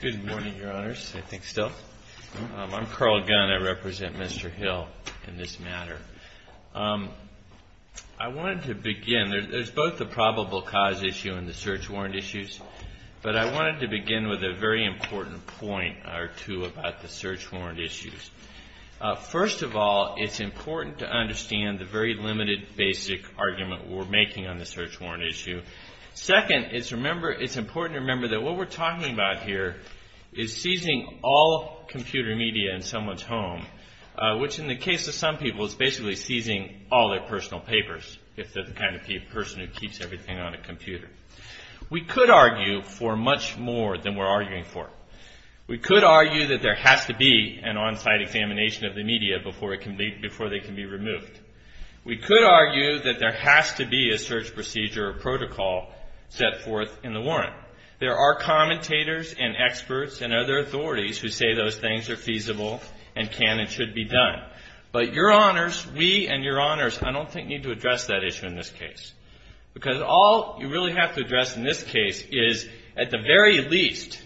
Good morning, Your Honors. I think so. I'm Carl Gunn. I represent Mr. Hill in this matter. I wanted to begin, there's both the probable cause issue and the search warrant issues, but I wanted to begin with a very important point or two about the search warrant issues. First of all, it's important to understand the very limited basic argument we're making on the search warrant issue. Second, it's important to remember that what we're talking about here is seizing all computer media in someone's home, which in the case of some people is basically seizing all their personal papers, if they're the kind of person who keeps everything on a computer. We could argue for much more than we're arguing for. We could argue that there has to be an on-site examination of the media before they can be removed. We could argue that there has to be a search procedure or protocol set forth in the warrant. There are commentators and experts and other authorities who say those things are feasible and can and should be done. But Your Honors, we and Your Honors, I don't think need to address that issue in this case. Because all you really have to address in this case is at the very least,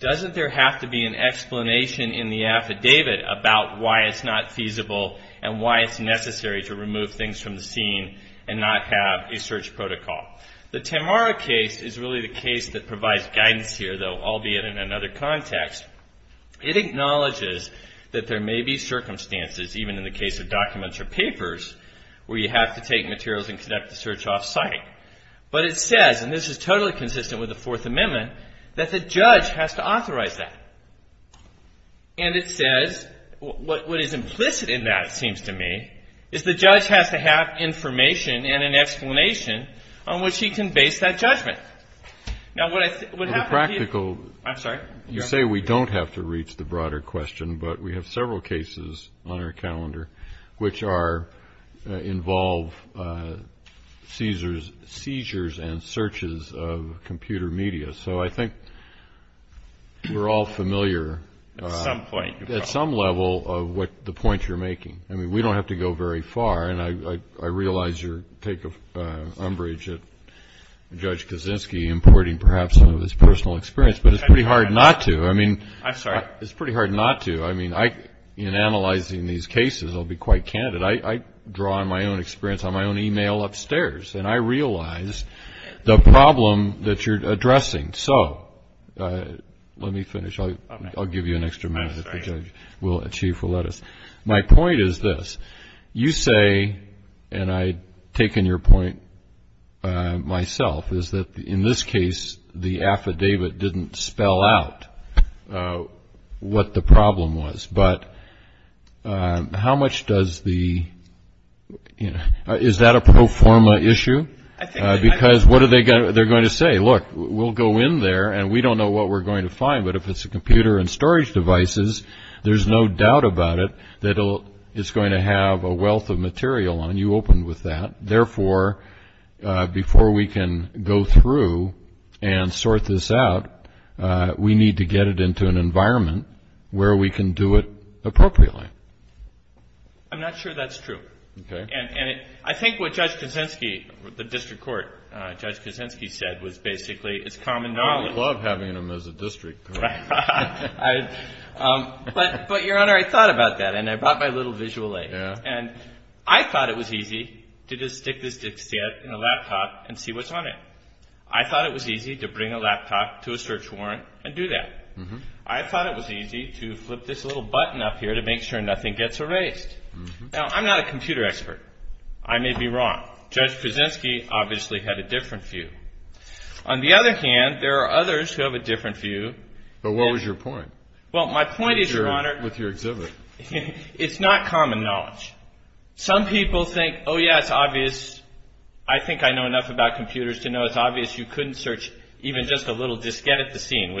doesn't there have to be an explanation in the affidavit about why it's not feasible and why it's necessary to remove things from the scene and not have a search protocol. The Tamara case is really the case that provides guidance here, though, albeit in another context. It acknowledges that there may be circumstances, even in the case of documents or papers, where you have to take materials and conduct the search off-site. But it says, and this is totally consistent with the Fourth Amendment, that the judge has to authorize that. And it says, what is implicit in that, it seems to me, is the judge has to have information and an explanation on which he can base that judgment. Now, what I think would happen to you... The practical... I'm sorry? You say we don't have to reach the broader question, but we have several cases on our all familiar... At some point. At some level of what the point you're making. I mean, we don't have to go very far. And I realize you take umbrage at Judge Kaczynski, importing perhaps some of his personal experience, but it's pretty hard not to. I mean... I'm sorry? It's pretty hard not to. I mean, in analyzing these cases, I'll be quite candid. I draw on my own experience on my own e-mail upstairs, and I realize the problem that you're addressing. So, let me finish. I'll give you an extra minute if the judge will achieve to let us. My point is this. You say, and I've taken your point myself, is that in this case, the affidavit didn't spell out what the problem was. But how much does the... Is that a proforma issue? Because what are they going to say? Look, we'll go in there, and we don't know what we're going to find, but if it's a computer and storage devices, there's no doubt about it that it's going to have a wealth of material on you open with that. Therefore, before we can go through and sort this out, we need to get it into an environment where we can do it appropriately. I'm not sure that's true. And I think what Judge Kuczynski, the district court, Judge Kuczynski said was basically, it's common knowledge... I would love having him as a district court. But Your Honor, I thought about that, and I brought my little visual aid. And I thought it was easy to just stick this to a laptop and see what's on it. I thought it was easy to bring a laptop to a search warrant and do that. I thought it was easy to flip this little button up here to make sure nothing gets erased. Now, I'm not a computer expert. I may be wrong. Judge Kuczynski obviously had a different view. On the other hand, there are others who have a different view. But what was your point? Well, my point is, Your Honor... With your exhibit. It's not common knowledge. Some people think, oh yeah, it's obvious. I think I know enough about computers to know it's obvious you couldn't search even just a little diskette at the same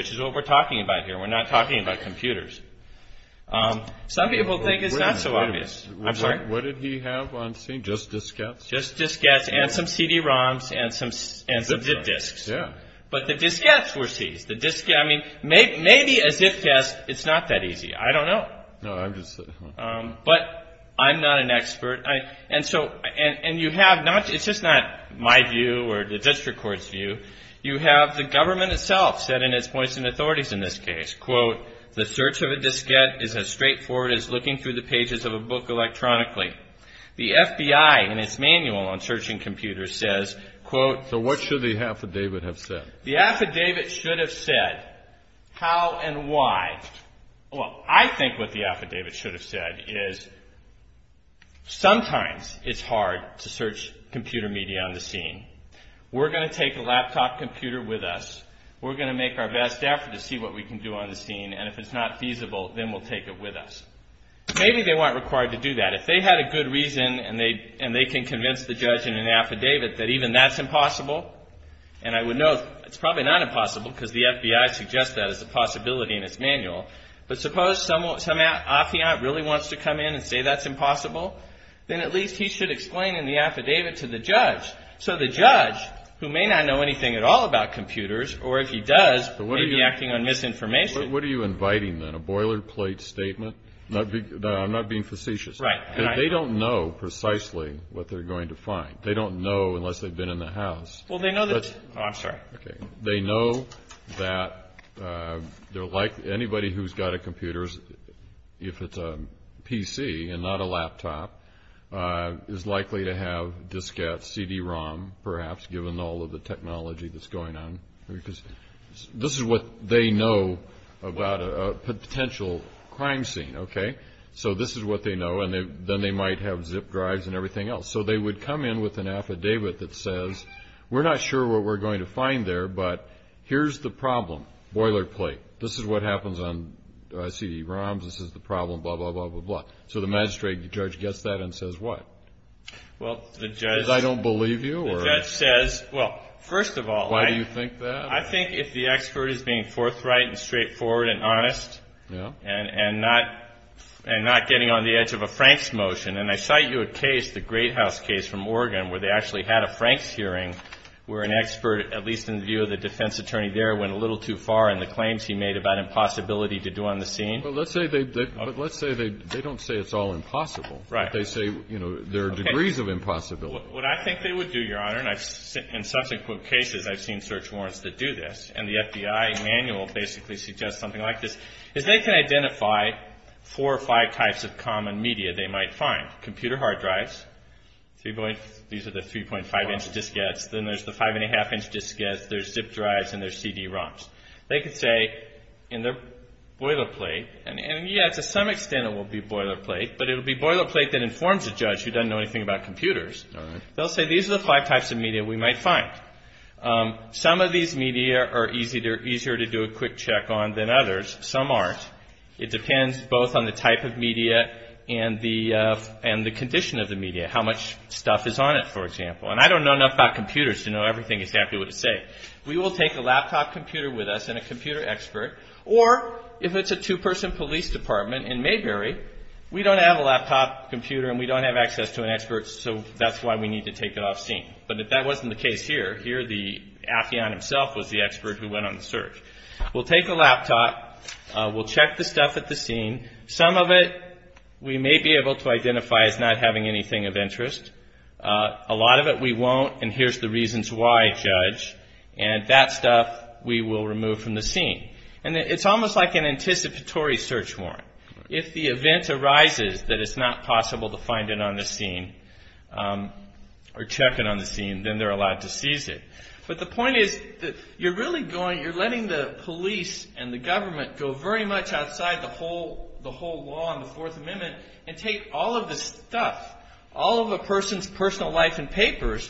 time. Some people think it's not so obvious. Wait a minute. What did he have on scene? Just diskettes? Just diskettes and some CD-ROMs and some ZIP disks. But the diskettes were seized. Maybe a ZIP diskette, it's not that easy. I don't know. But I'm not an expert. And you have... It's just not my view or the district court's view. You have the government itself said in its points and authorities in this case, quote, the search of a diskette is as straightforward as looking through the pages of a book electronically. The FBI in its manual on searching computers says, quote... So what should the affidavit have said? The affidavit should have said how and why. Well, I think what the affidavit should have said is sometimes it's hard to search computer media on the scene. We're going to take a laptop computer with us. We're going to make our best effort to see what we can do on the scene. And if it's not feasible, then we'll take it with us. Maybe they weren't required to do that. If they had a good reason and they can convince the judge in an affidavit that even that's impossible, and I would note it's probably not impossible because the FBI suggests that as a possibility in its manual, but suppose some affiant really wants to come in and say that's impossible, then at least he should explain in the affidavit to the judge. So the judge, who may not know anything at all about computers, or if he does, may be acting on misinformation. What are you inviting, then? A boilerplate statement? I'm not being facetious. Right. They don't know precisely what they're going to find. They don't know unless they've been in the house. Well, they know that... Oh, I'm sorry. Okay. They know that anybody who's got a computer, if it's a PC and not a laptop, is likely to have diskette, CD-ROM, perhaps, given all of the technology that's going on. This is what they know about a potential crime scene, okay? So this is what they know, and then they might have zip drives and everything else. So they would come in with an affidavit that says, we're not sure what we're going to find there, but here's the problem. Boilerplate. This is what happens on CD-ROMs. This is the problem, blah, blah, blah, blah, blah. So the magistrate, the judge, gets that and says what? Well, the judge... Because I don't believe you, or... The judge says, well, first of all... Why do you think that? I think if the expert is being forthright and straightforward and honest and not getting on the edge of a Franks motion, and I cite you a case, the Great House case from Oregon, where they actually had a Franks hearing where an expert, at least in the view of the defense attorney there, went a little too far in the claims he made about impossibility to do on the scene. But let's say they don't say it's all impossible. Right. They say there are degrees of impossibility. What I think they would do, Your Honor, and in subsequent cases I've seen search warrants that do this, and the FBI manual basically suggests something like this, is they can identify four or five types of common media they might find. Computer hard drives, these are the 3.5-inch diskettes, then there's the 5.5-inch diskettes, there's ZIP drives, and there's CD-ROMs. They could say in their boilerplate, and yeah, to some extent it will be boilerplate, but it will be boilerplate that informs the judge, who doesn't know anything about computers, they'll say these are the five types of media we might find. Some of these media are easier to do a quick check on than others. Some aren't. It depends both on the type of media and the condition of the media, how much stuff is on it, for example. And I don't know enough about computers to know everything exactly what it says. We will take a laptop computer with us and a computer expert, or if it's a two-person police department in Mayberry, we don't have a laptop computer and we don't have access to an expert, so that's why we need to take it off scene. But that wasn't the case here. Here the atheon himself was the expert who went on the search. We'll take the laptop, we'll check the stuff at the scene, some of it we may be able to identify as not having anything of interest, a lot of it we won't, and here's the reasons why, judge, and that stuff we will remove from the scene. And it's almost like an anticipatory search warrant. If the event arises that it's not possible to find it on the scene, or check it on the scene, then they're allowed to seize it. But the point is that you're really going, you're letting the police and the government go very much outside the whole law and the Fourth Amendment and take all of the stuff, all of a person's personal life and papers,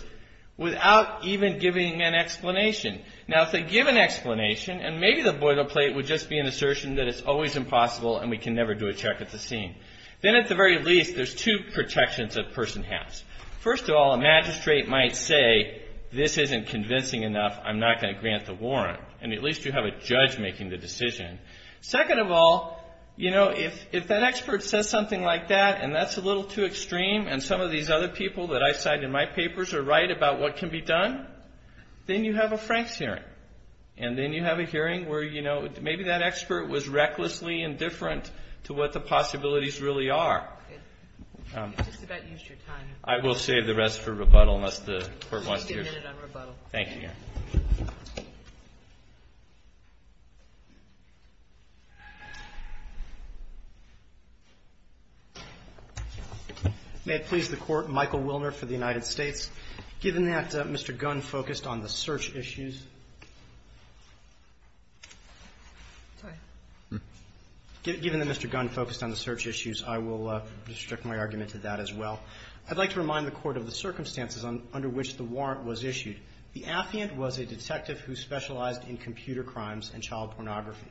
without even giving an explanation. Now if they give an explanation, and maybe the boilerplate would just be an assertion that it's always impossible and we can never do a check at the scene, then at the very least there's two protections a person has. First of all, a magistrate might say, this isn't convincing enough, I'm not going to grant the warrant, and at least you have a judge making the decision. Second of all, if that expert says something like that, and that's a little too extreme, and some of these other people that I cite in my papers are right about what can be done, then you have a Franks hearing. And then you have a hearing where, you know, maybe that expert was recklessly indifferent to what the possibilities really are. It's just about used your time. I will save the rest for rebuttal unless the Court wants to use it. We'll give you a minute on rebuttal. Thank you, Your Honor. May it please the Court, Michael Wilner for the United States. Given that Mr. Gunn focused on the search issues – given that Mr. Gunn focused on the search issues, I will restrict my argument to that as well. I'd like to remind the Court of the circumstances under which the warrant was issued. The affiant was a detective who specialized in computer crimes and child pornography.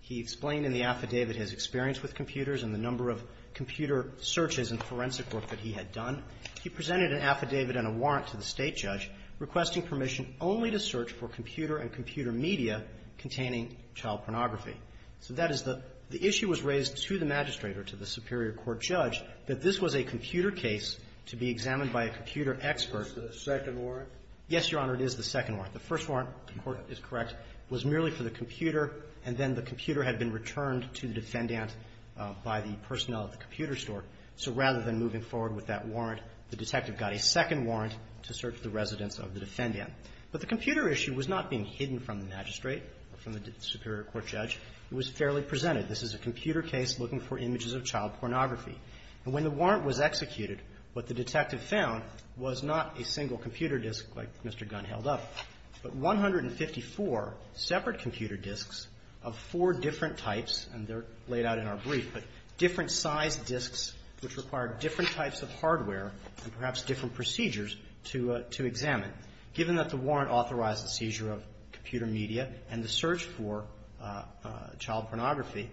He explained in the affidavit his experience with computers and the number of computer searches and forensic work that he had done. He presented an affidavit and a warrant to the State judge requesting permission only to search for computer and computer media containing child pornography. So that is the – the issue was raised to the Magistrator, to the Superior Court judge, that this was a computer case to be examined by a computer expert. Is this the second warrant? Yes, Your Honor, it is the second warrant. The first warrant, the Court is correct, was merely for the computer, and then the computer had been returned to the defendant by the personnel at the computer store. So rather than moving forward with that warrant, the detective got a second warrant to search the residence of the defendant. But the computer issue was not being hidden from the magistrate or from the Superior Court judge. It was fairly presented. This is a computer case looking for images of child pornography. And when the warrant was executed, what the detective found was not a single computer disk like Mr. Gunn held up, but 154 separate computer disks of four different types, and they're laid out in our brief, but different size disks which required different types of hardware and perhaps different procedures to examine. Given that the warrant authorized the seizure of computer media and the search for child pornography,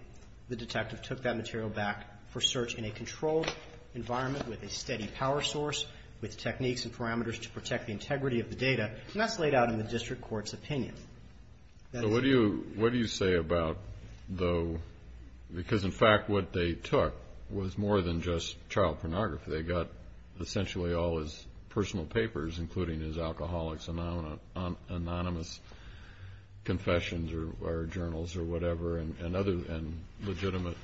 the detective took that material back for search in a controlled environment with a steady power source, with techniques and parameters to protect the integrity of the data. And that's laid out in the district court's opinion. So what do you say about, though, because in fact what they took was more than just child pornography. They got essentially all his personal papers, including his alcoholics' anonymous confessions or journals or whatever and other legitimate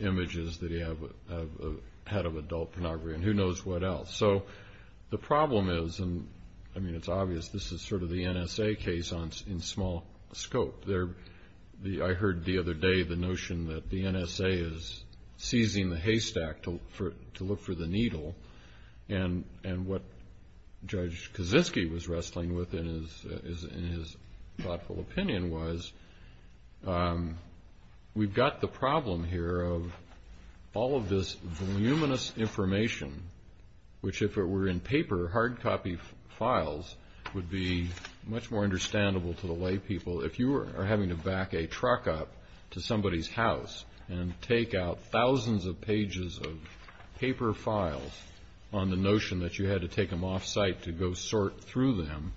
images that he had of adult pornography and who knows what else. So the problem is, and I mean it's obvious, this is sort of the NSA case in small scope. I heard the other day the notion that the NSA is seizing the haystack to look for the needle. And what Judge Kaczynski was wrestling with in his thoughtful opinion was we've got the which if it were in paper, hard copy files would be much more understandable to the lay people. If you were having to back a truck up to somebody's house and take out thousands of pages of paper files on the notion that you had to take them off site to go sort through them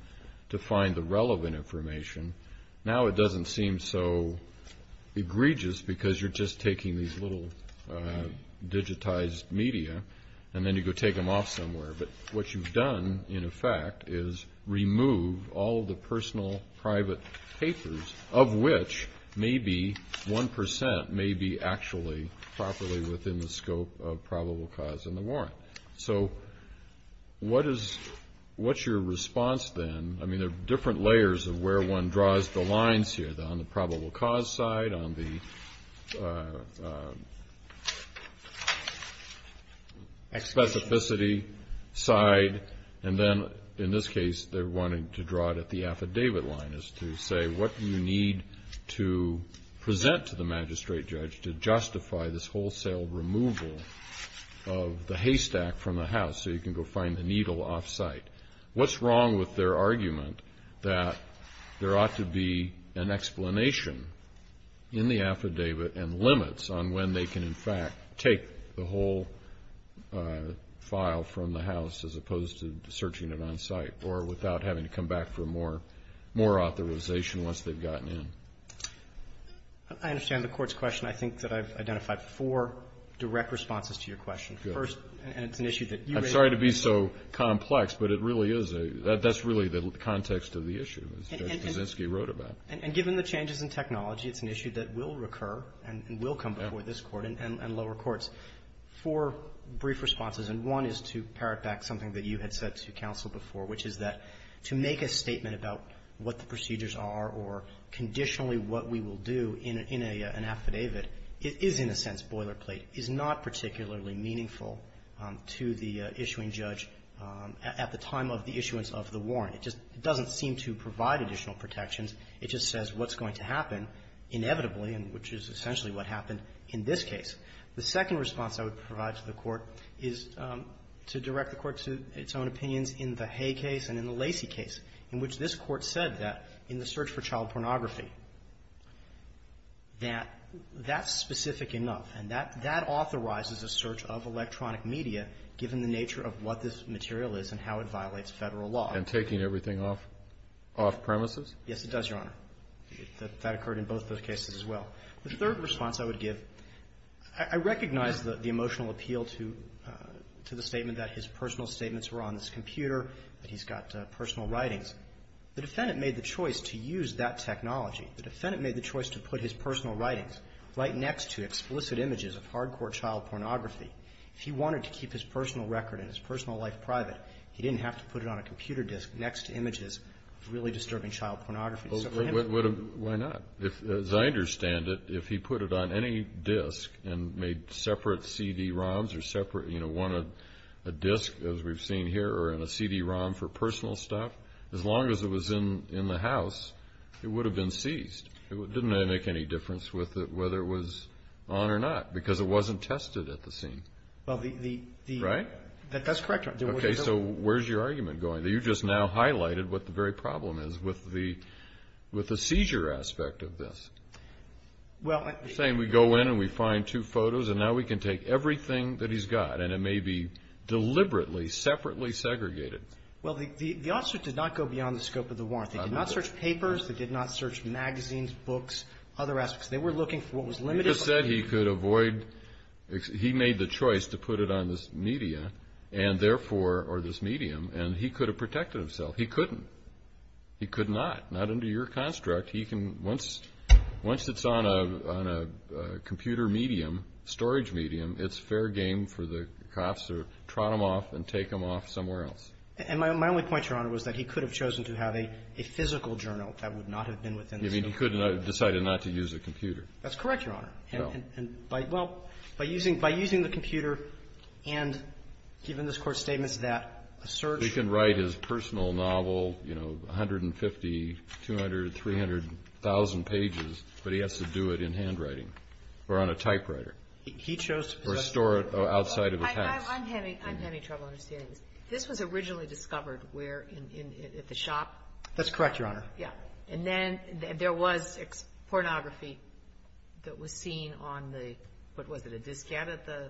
to find the relevant information, now it doesn't seem so egregious because you're just taking these little digitized media and then you go take them off somewhere. But what you've done, in effect, is remove all the personal private papers of which maybe 1% may be actually properly within the scope of probable cause and the warrant. So what's your response then? I mean there are different layers of where one draws the lines here. On the probable cause side, on the specificity side, and then in this case they're wanting to draw it at the affidavit line as to say what you need to present to the magistrate judge to justify this wholesale removal of the haystack from the house so you can go find the needle off site. What's wrong with their argument that there ought to be an explanation in the affidavit and limits on when they can, in fact, take the whole file from the house as opposed to searching it on site or without having to come back for more authorization once they've gotten in? I understand the Court's question. I think that I've identified four direct responses to your question. Good. First, and it's an issue that you raised. I'm sorry to be so complex, but it really is. That's really the context of the issue, as Judge Buszynski wrote about. And given the changes in technology, it's an issue that will recur and will come before this Court and lower courts. Four brief responses, and one is to parrot back something that you had said to counsel before, which is that to make a statement about what the procedures are or conditionally what we will do in an affidavit is, in a sense, boilerplate, is not particularly meaningful to the issuing judge at the time of the issuance of the warrant. It just doesn't seem to provide additional protections. It just says what's going to happen inevitably, and which is essentially what happened in this case. The second response I would provide to the Court is to direct the Court to its own opinions in the Hay case and in the Lacey case, in which this Court said that in the search for child pornography, that that's specific enough. And that authorizes a search of electronic media, given the nature of what this material is and how it violates Federal law. And taking everything off premises? Yes, it does, Your Honor. That occurred in both those cases as well. The third response I would give, I recognize the emotional appeal to the statement that his personal statements were on this computer, that he's got personal writings. The defendant made the choice to use that technology. The defendant made the choice to put his personal writings right next to explicit images of hardcore child pornography. If he wanted to keep his personal record and his personal life private, he didn't have to put it on a computer disk next to images of really disturbing child pornography. Why not? As I understand it, if he put it on any disk and made separate CD-ROMs or separate a disk, as we've seen here, or in a CD-ROM for personal stuff, as long as it was in the house, it would have been seized. Didn't that make any difference with it, whether it was on or not? Because it wasn't tested at the scene. Well, the... Right? That's correct, Your Honor. Okay, so where's your argument going? You just now highlighted what the very problem is with the seizure aspect of this. Well... You're saying we go in and we find two photos, and now we can take everything that he's got, and it may be deliberately, separately segregated. Well, the officer did not go beyond the scope of the warrant. They did not search papers. They did not search magazines, books, other aspects. They were looking for what was limited... You just said he could avoid... He made the choice to put it on this media, and therefore... Or this medium, and he could have protected himself. He couldn't. He could not. Not under your construct. He can... Once it's on a computer medium, storage medium, it's fair game for the cops to trot him off and take him off somewhere else. And my only point, Your Honor, was that he could have chosen to have a physical journal that would not have been within the scope... You mean he could have decided not to use a computer. That's correct, Your Honor. No. And by... Well, by using the computer and given this Court's statements that a search... Well, he can write his personal novel, you know, 150, 200, 300,000 pages, but he has to do it in handwriting or on a typewriter. He chose to... Or store it outside of a pass. I'm having trouble understanding this. This was originally discovered where? At the shop? That's correct, Your Honor. Yeah. And then there was pornography that was seen on the... What was it? A diskette at the...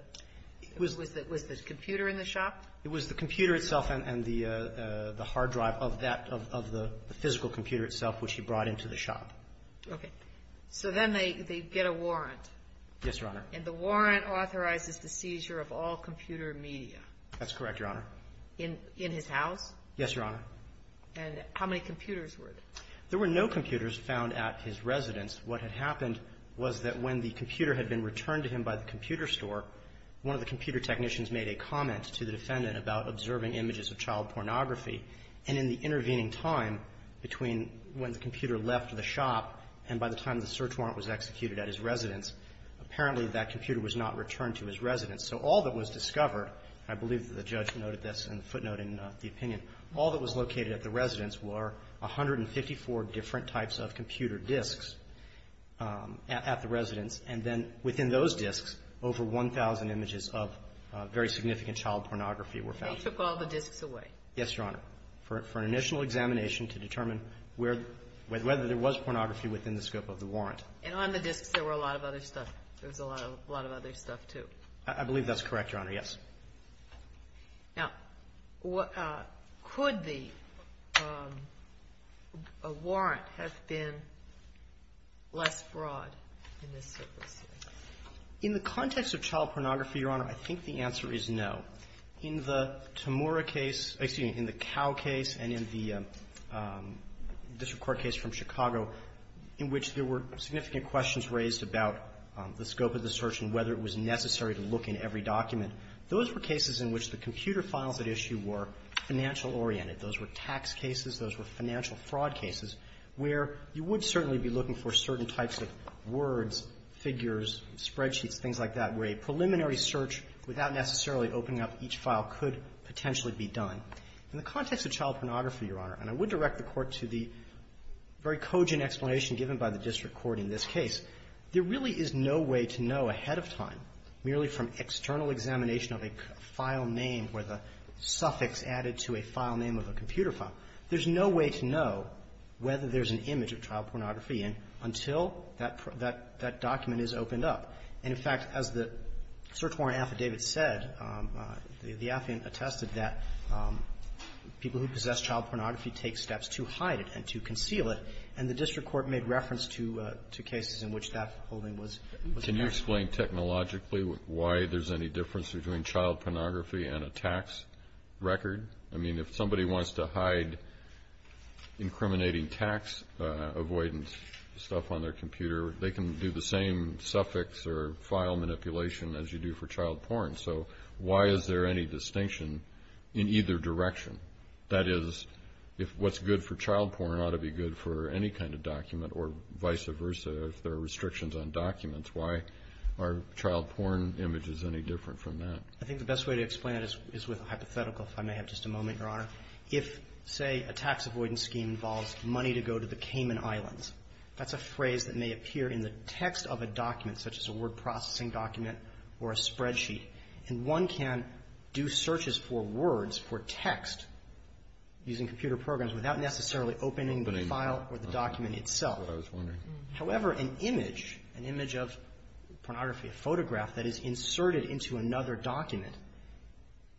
Was the computer in the shop? It was the computer itself and the hard drive of the physical computer itself, which he brought into the shop. Okay. So then they get a warrant. Yes, Your Honor. And the warrant authorizes the seizure of all computer media. That's correct, Your Honor. In his house? Yes, Your Honor. And how many computers were there? There were no computers found at his residence. What had happened was that when the computer had been returned to him by the computer store, one of the computer technicians made a comment to the defendant about observing images of child pornography. And in the intervening time between when the computer left the shop and by the time the search warrant was executed at his residence, apparently that computer was not returned to his residence. So all that was discovered, and I believe that the judge noted this in the footnote in the opinion, all that was located at the residence were 154 different types of computer disks at the residence. And then within those disks, over 1,000 images of very significant child pornography were found. They took all the disks away? Yes, Your Honor, for an initial examination to determine whether there was pornography within the scope of the warrant. And on the disks there were a lot of other stuff. There was a lot of other stuff, too. I believe that's correct, Your Honor, yes. Now, could the warrant have been less broad in this circumstance? In the context of child pornography, Your Honor, I think the answer is no. In the Tamura case, excuse me, in the Cow case and in the District Court case from Chicago, in which there were significant questions raised about the scope of the search and whether it was necessary to look in every document, those were cases in which the computer files at issue were financial-oriented. Those were tax cases. Those were financial fraud cases where you would certainly be looking for certain types of words, figures, spreadsheets, things like that, where a preliminary search without necessarily opening up each file could potentially be done. In the context of child pornography, Your Honor, and I would direct the Court to the very cogent explanation given by the District Court in this case, there really is no way to know ahead of time, merely from external examination of a file name where the suffix added to a file name of a computer file, there's no way to know whether there's an image of child pornography until that document is opened up. And, in fact, as the search warrant affidavit said, the affidavit attested that people who possess child pornography take steps to hide it and to conceal it, and the District Court made reference to cases in which that holding was correct. Can you explain technologically why there's any difference between child pornography and a tax record? I mean, if somebody wants to hide incriminating tax avoidance stuff on their computer, they can do the same suffix or file manipulation as you do for child porn. So why is there any distinction in either direction? That is, if what's good for child porn ought to be good for any kind of document or vice versa, if there are restrictions on documents, why are child porn images any different from that? I think the best way to explain it is with a hypothetical, if I may have just a moment, Your Honor. If, say, a tax avoidance scheme involves money to go to the Cayman Islands, that's a phrase that may appear in the text of a document, such as a word processing document or a spreadsheet. And one can do searches for words, for text using computer programs without necessarily opening the file or the document itself. That's what I was wondering. However, an image, an image of pornography, a photograph that is inserted into another document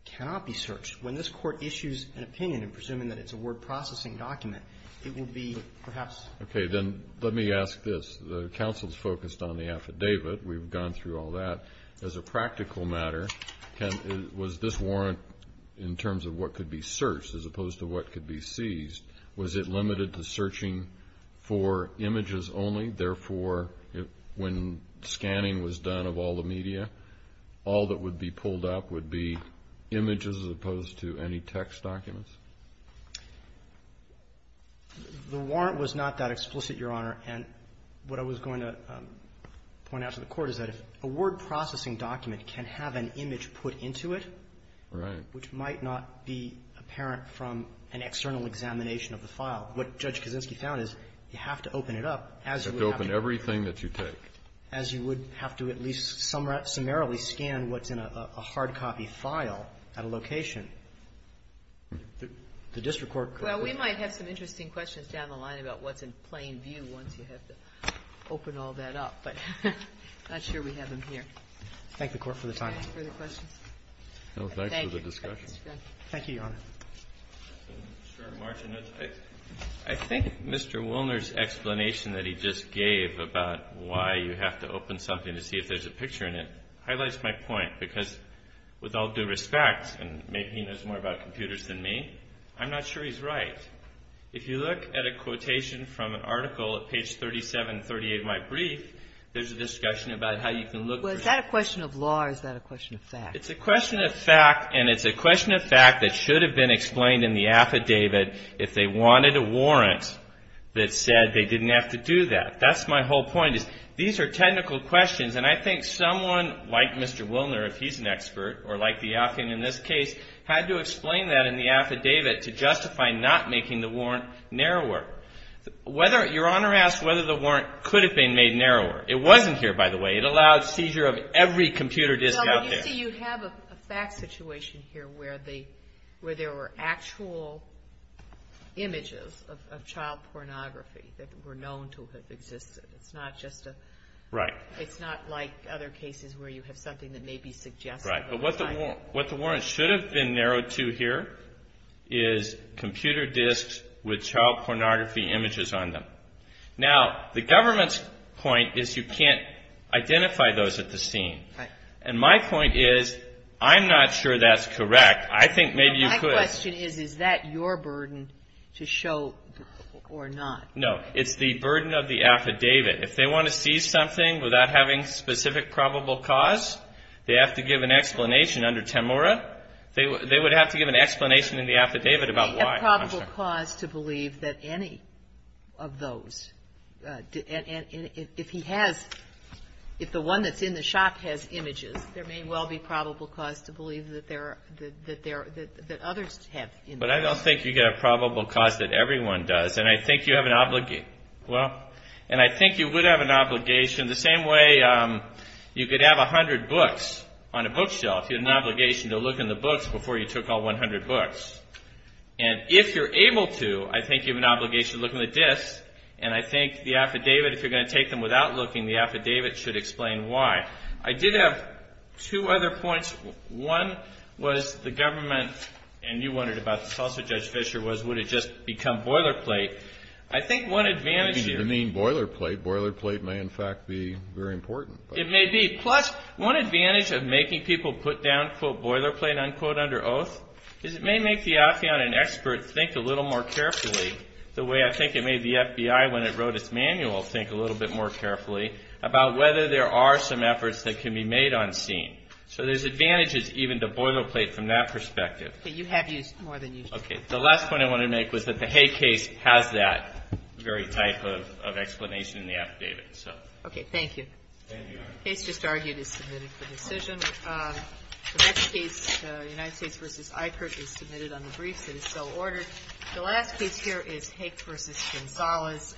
cannot be searched. When this Court issues an opinion in presuming that it's a word processing document, it will be perhaps. Okay. Then let me ask this. The counsel's focused on the affidavit. We've gone through all that. As a practical matter, was this warrant in terms of what could be searched as opposed to what could be seized, was it limited to searching for images only? Therefore, when scanning was done of all the media, all that would be pulled up would be images as opposed to any text documents? The warrant was not that explicit, Your Honor. And what I was going to point out to the Court is that if a word processing document can have an image put into it. Right. Which might not be apparent from an external examination of the file. What Judge Kaczynski found is you have to open it up as you would have to. You have to open everything that you take. As you would have to at least summarily scan what's in a hard copy file at a location. The district court could. Well, we might have some interesting questions down the line about what's in plain view once you have to open all that up. But I'm not sure we have them here. Thank the Court for the time. Further questions? No, thanks for the discussion. Thank you, Your Honor. Short margin. I think Mr. Woolner's explanation that he just gave about why you have to open something to see if there's a picture in it highlights my point. Because with all due respect, and maybe he knows more about computers than me, I'm not sure he's right. If you look at a quotation from an article at page 37 and 38 of my brief, there's a discussion about how you can look at it. Well, is that a question of law or is that a question of fact? It's a question of fact, and it's a question of fact that should have been explained in the affidavit if they wanted a warrant that said they didn't have to do that. That's my whole point is these are technical questions. And I think someone like Mr. Woolner, if he's an expert, or like the applicant in this case, had to explain that in the affidavit to justify not making the warrant narrower. Your Honor asked whether the warrant could have been made narrower. It wasn't here, by the way. It allowed seizure of every computer disk out there. No, but you see, you have a fact situation here where there were actual images of child pornography that were known to have existed. It's not just a – Right. It's not like other cases where you have something that may be suggesting – Right. But what the warrant should have been narrowed to here is computer disks with child pornography images on them. Now, the government's point is you can't identify those at the scene. Right. And my point is I'm not sure that's correct. I think maybe you could. My question is, is that your burden to show or not? No. It's the burden of the affidavit. If they want to see something without having specific probable cause, they have to give an explanation under Temora. They would have to give an explanation in the affidavit about why. They have probable cause to believe that any of those. And if he has – if the one that's in the shop has images, there may well be probable cause to believe that there are – that others have images. But I don't think you get a probable cause that everyone does. And I think you have an – well, and I think you would have an obligation the same way you could have 100 books on a bookshelf. You have an obligation to look in the books before you took all 100 books. And if you're able to, I think you have an obligation to look in the disks. And I think the affidavit, if you're going to take them without looking, the affidavit should explain why. I did have two other points. One was the government – and you wondered about this also, Judge Fischer, was would it just become boilerplate. I think one advantage here – You didn't even mean boilerplate. Boilerplate may, in fact, be very important. It may be. Plus, one advantage of making people put down, quote, boilerplate, unquote, under oath, is it may make the affiant and expert think a little more carefully, the way I think it made the FBI when it wrote its manual think a little bit more carefully about whether there are some efforts that can be made on scene. So there's advantages even to boilerplate from that perspective. Okay, you have used more than you should have. Okay, the last point I wanted to make was that the Haig case has that very type of explanation in the affidavit. Okay, thank you. Thank you, Your Honor. The case just argued is submitted for decision. The next case, United States v. Eichert, is submitted on the briefs. It is still ordered. The last case here is Haig v. Gonzalez.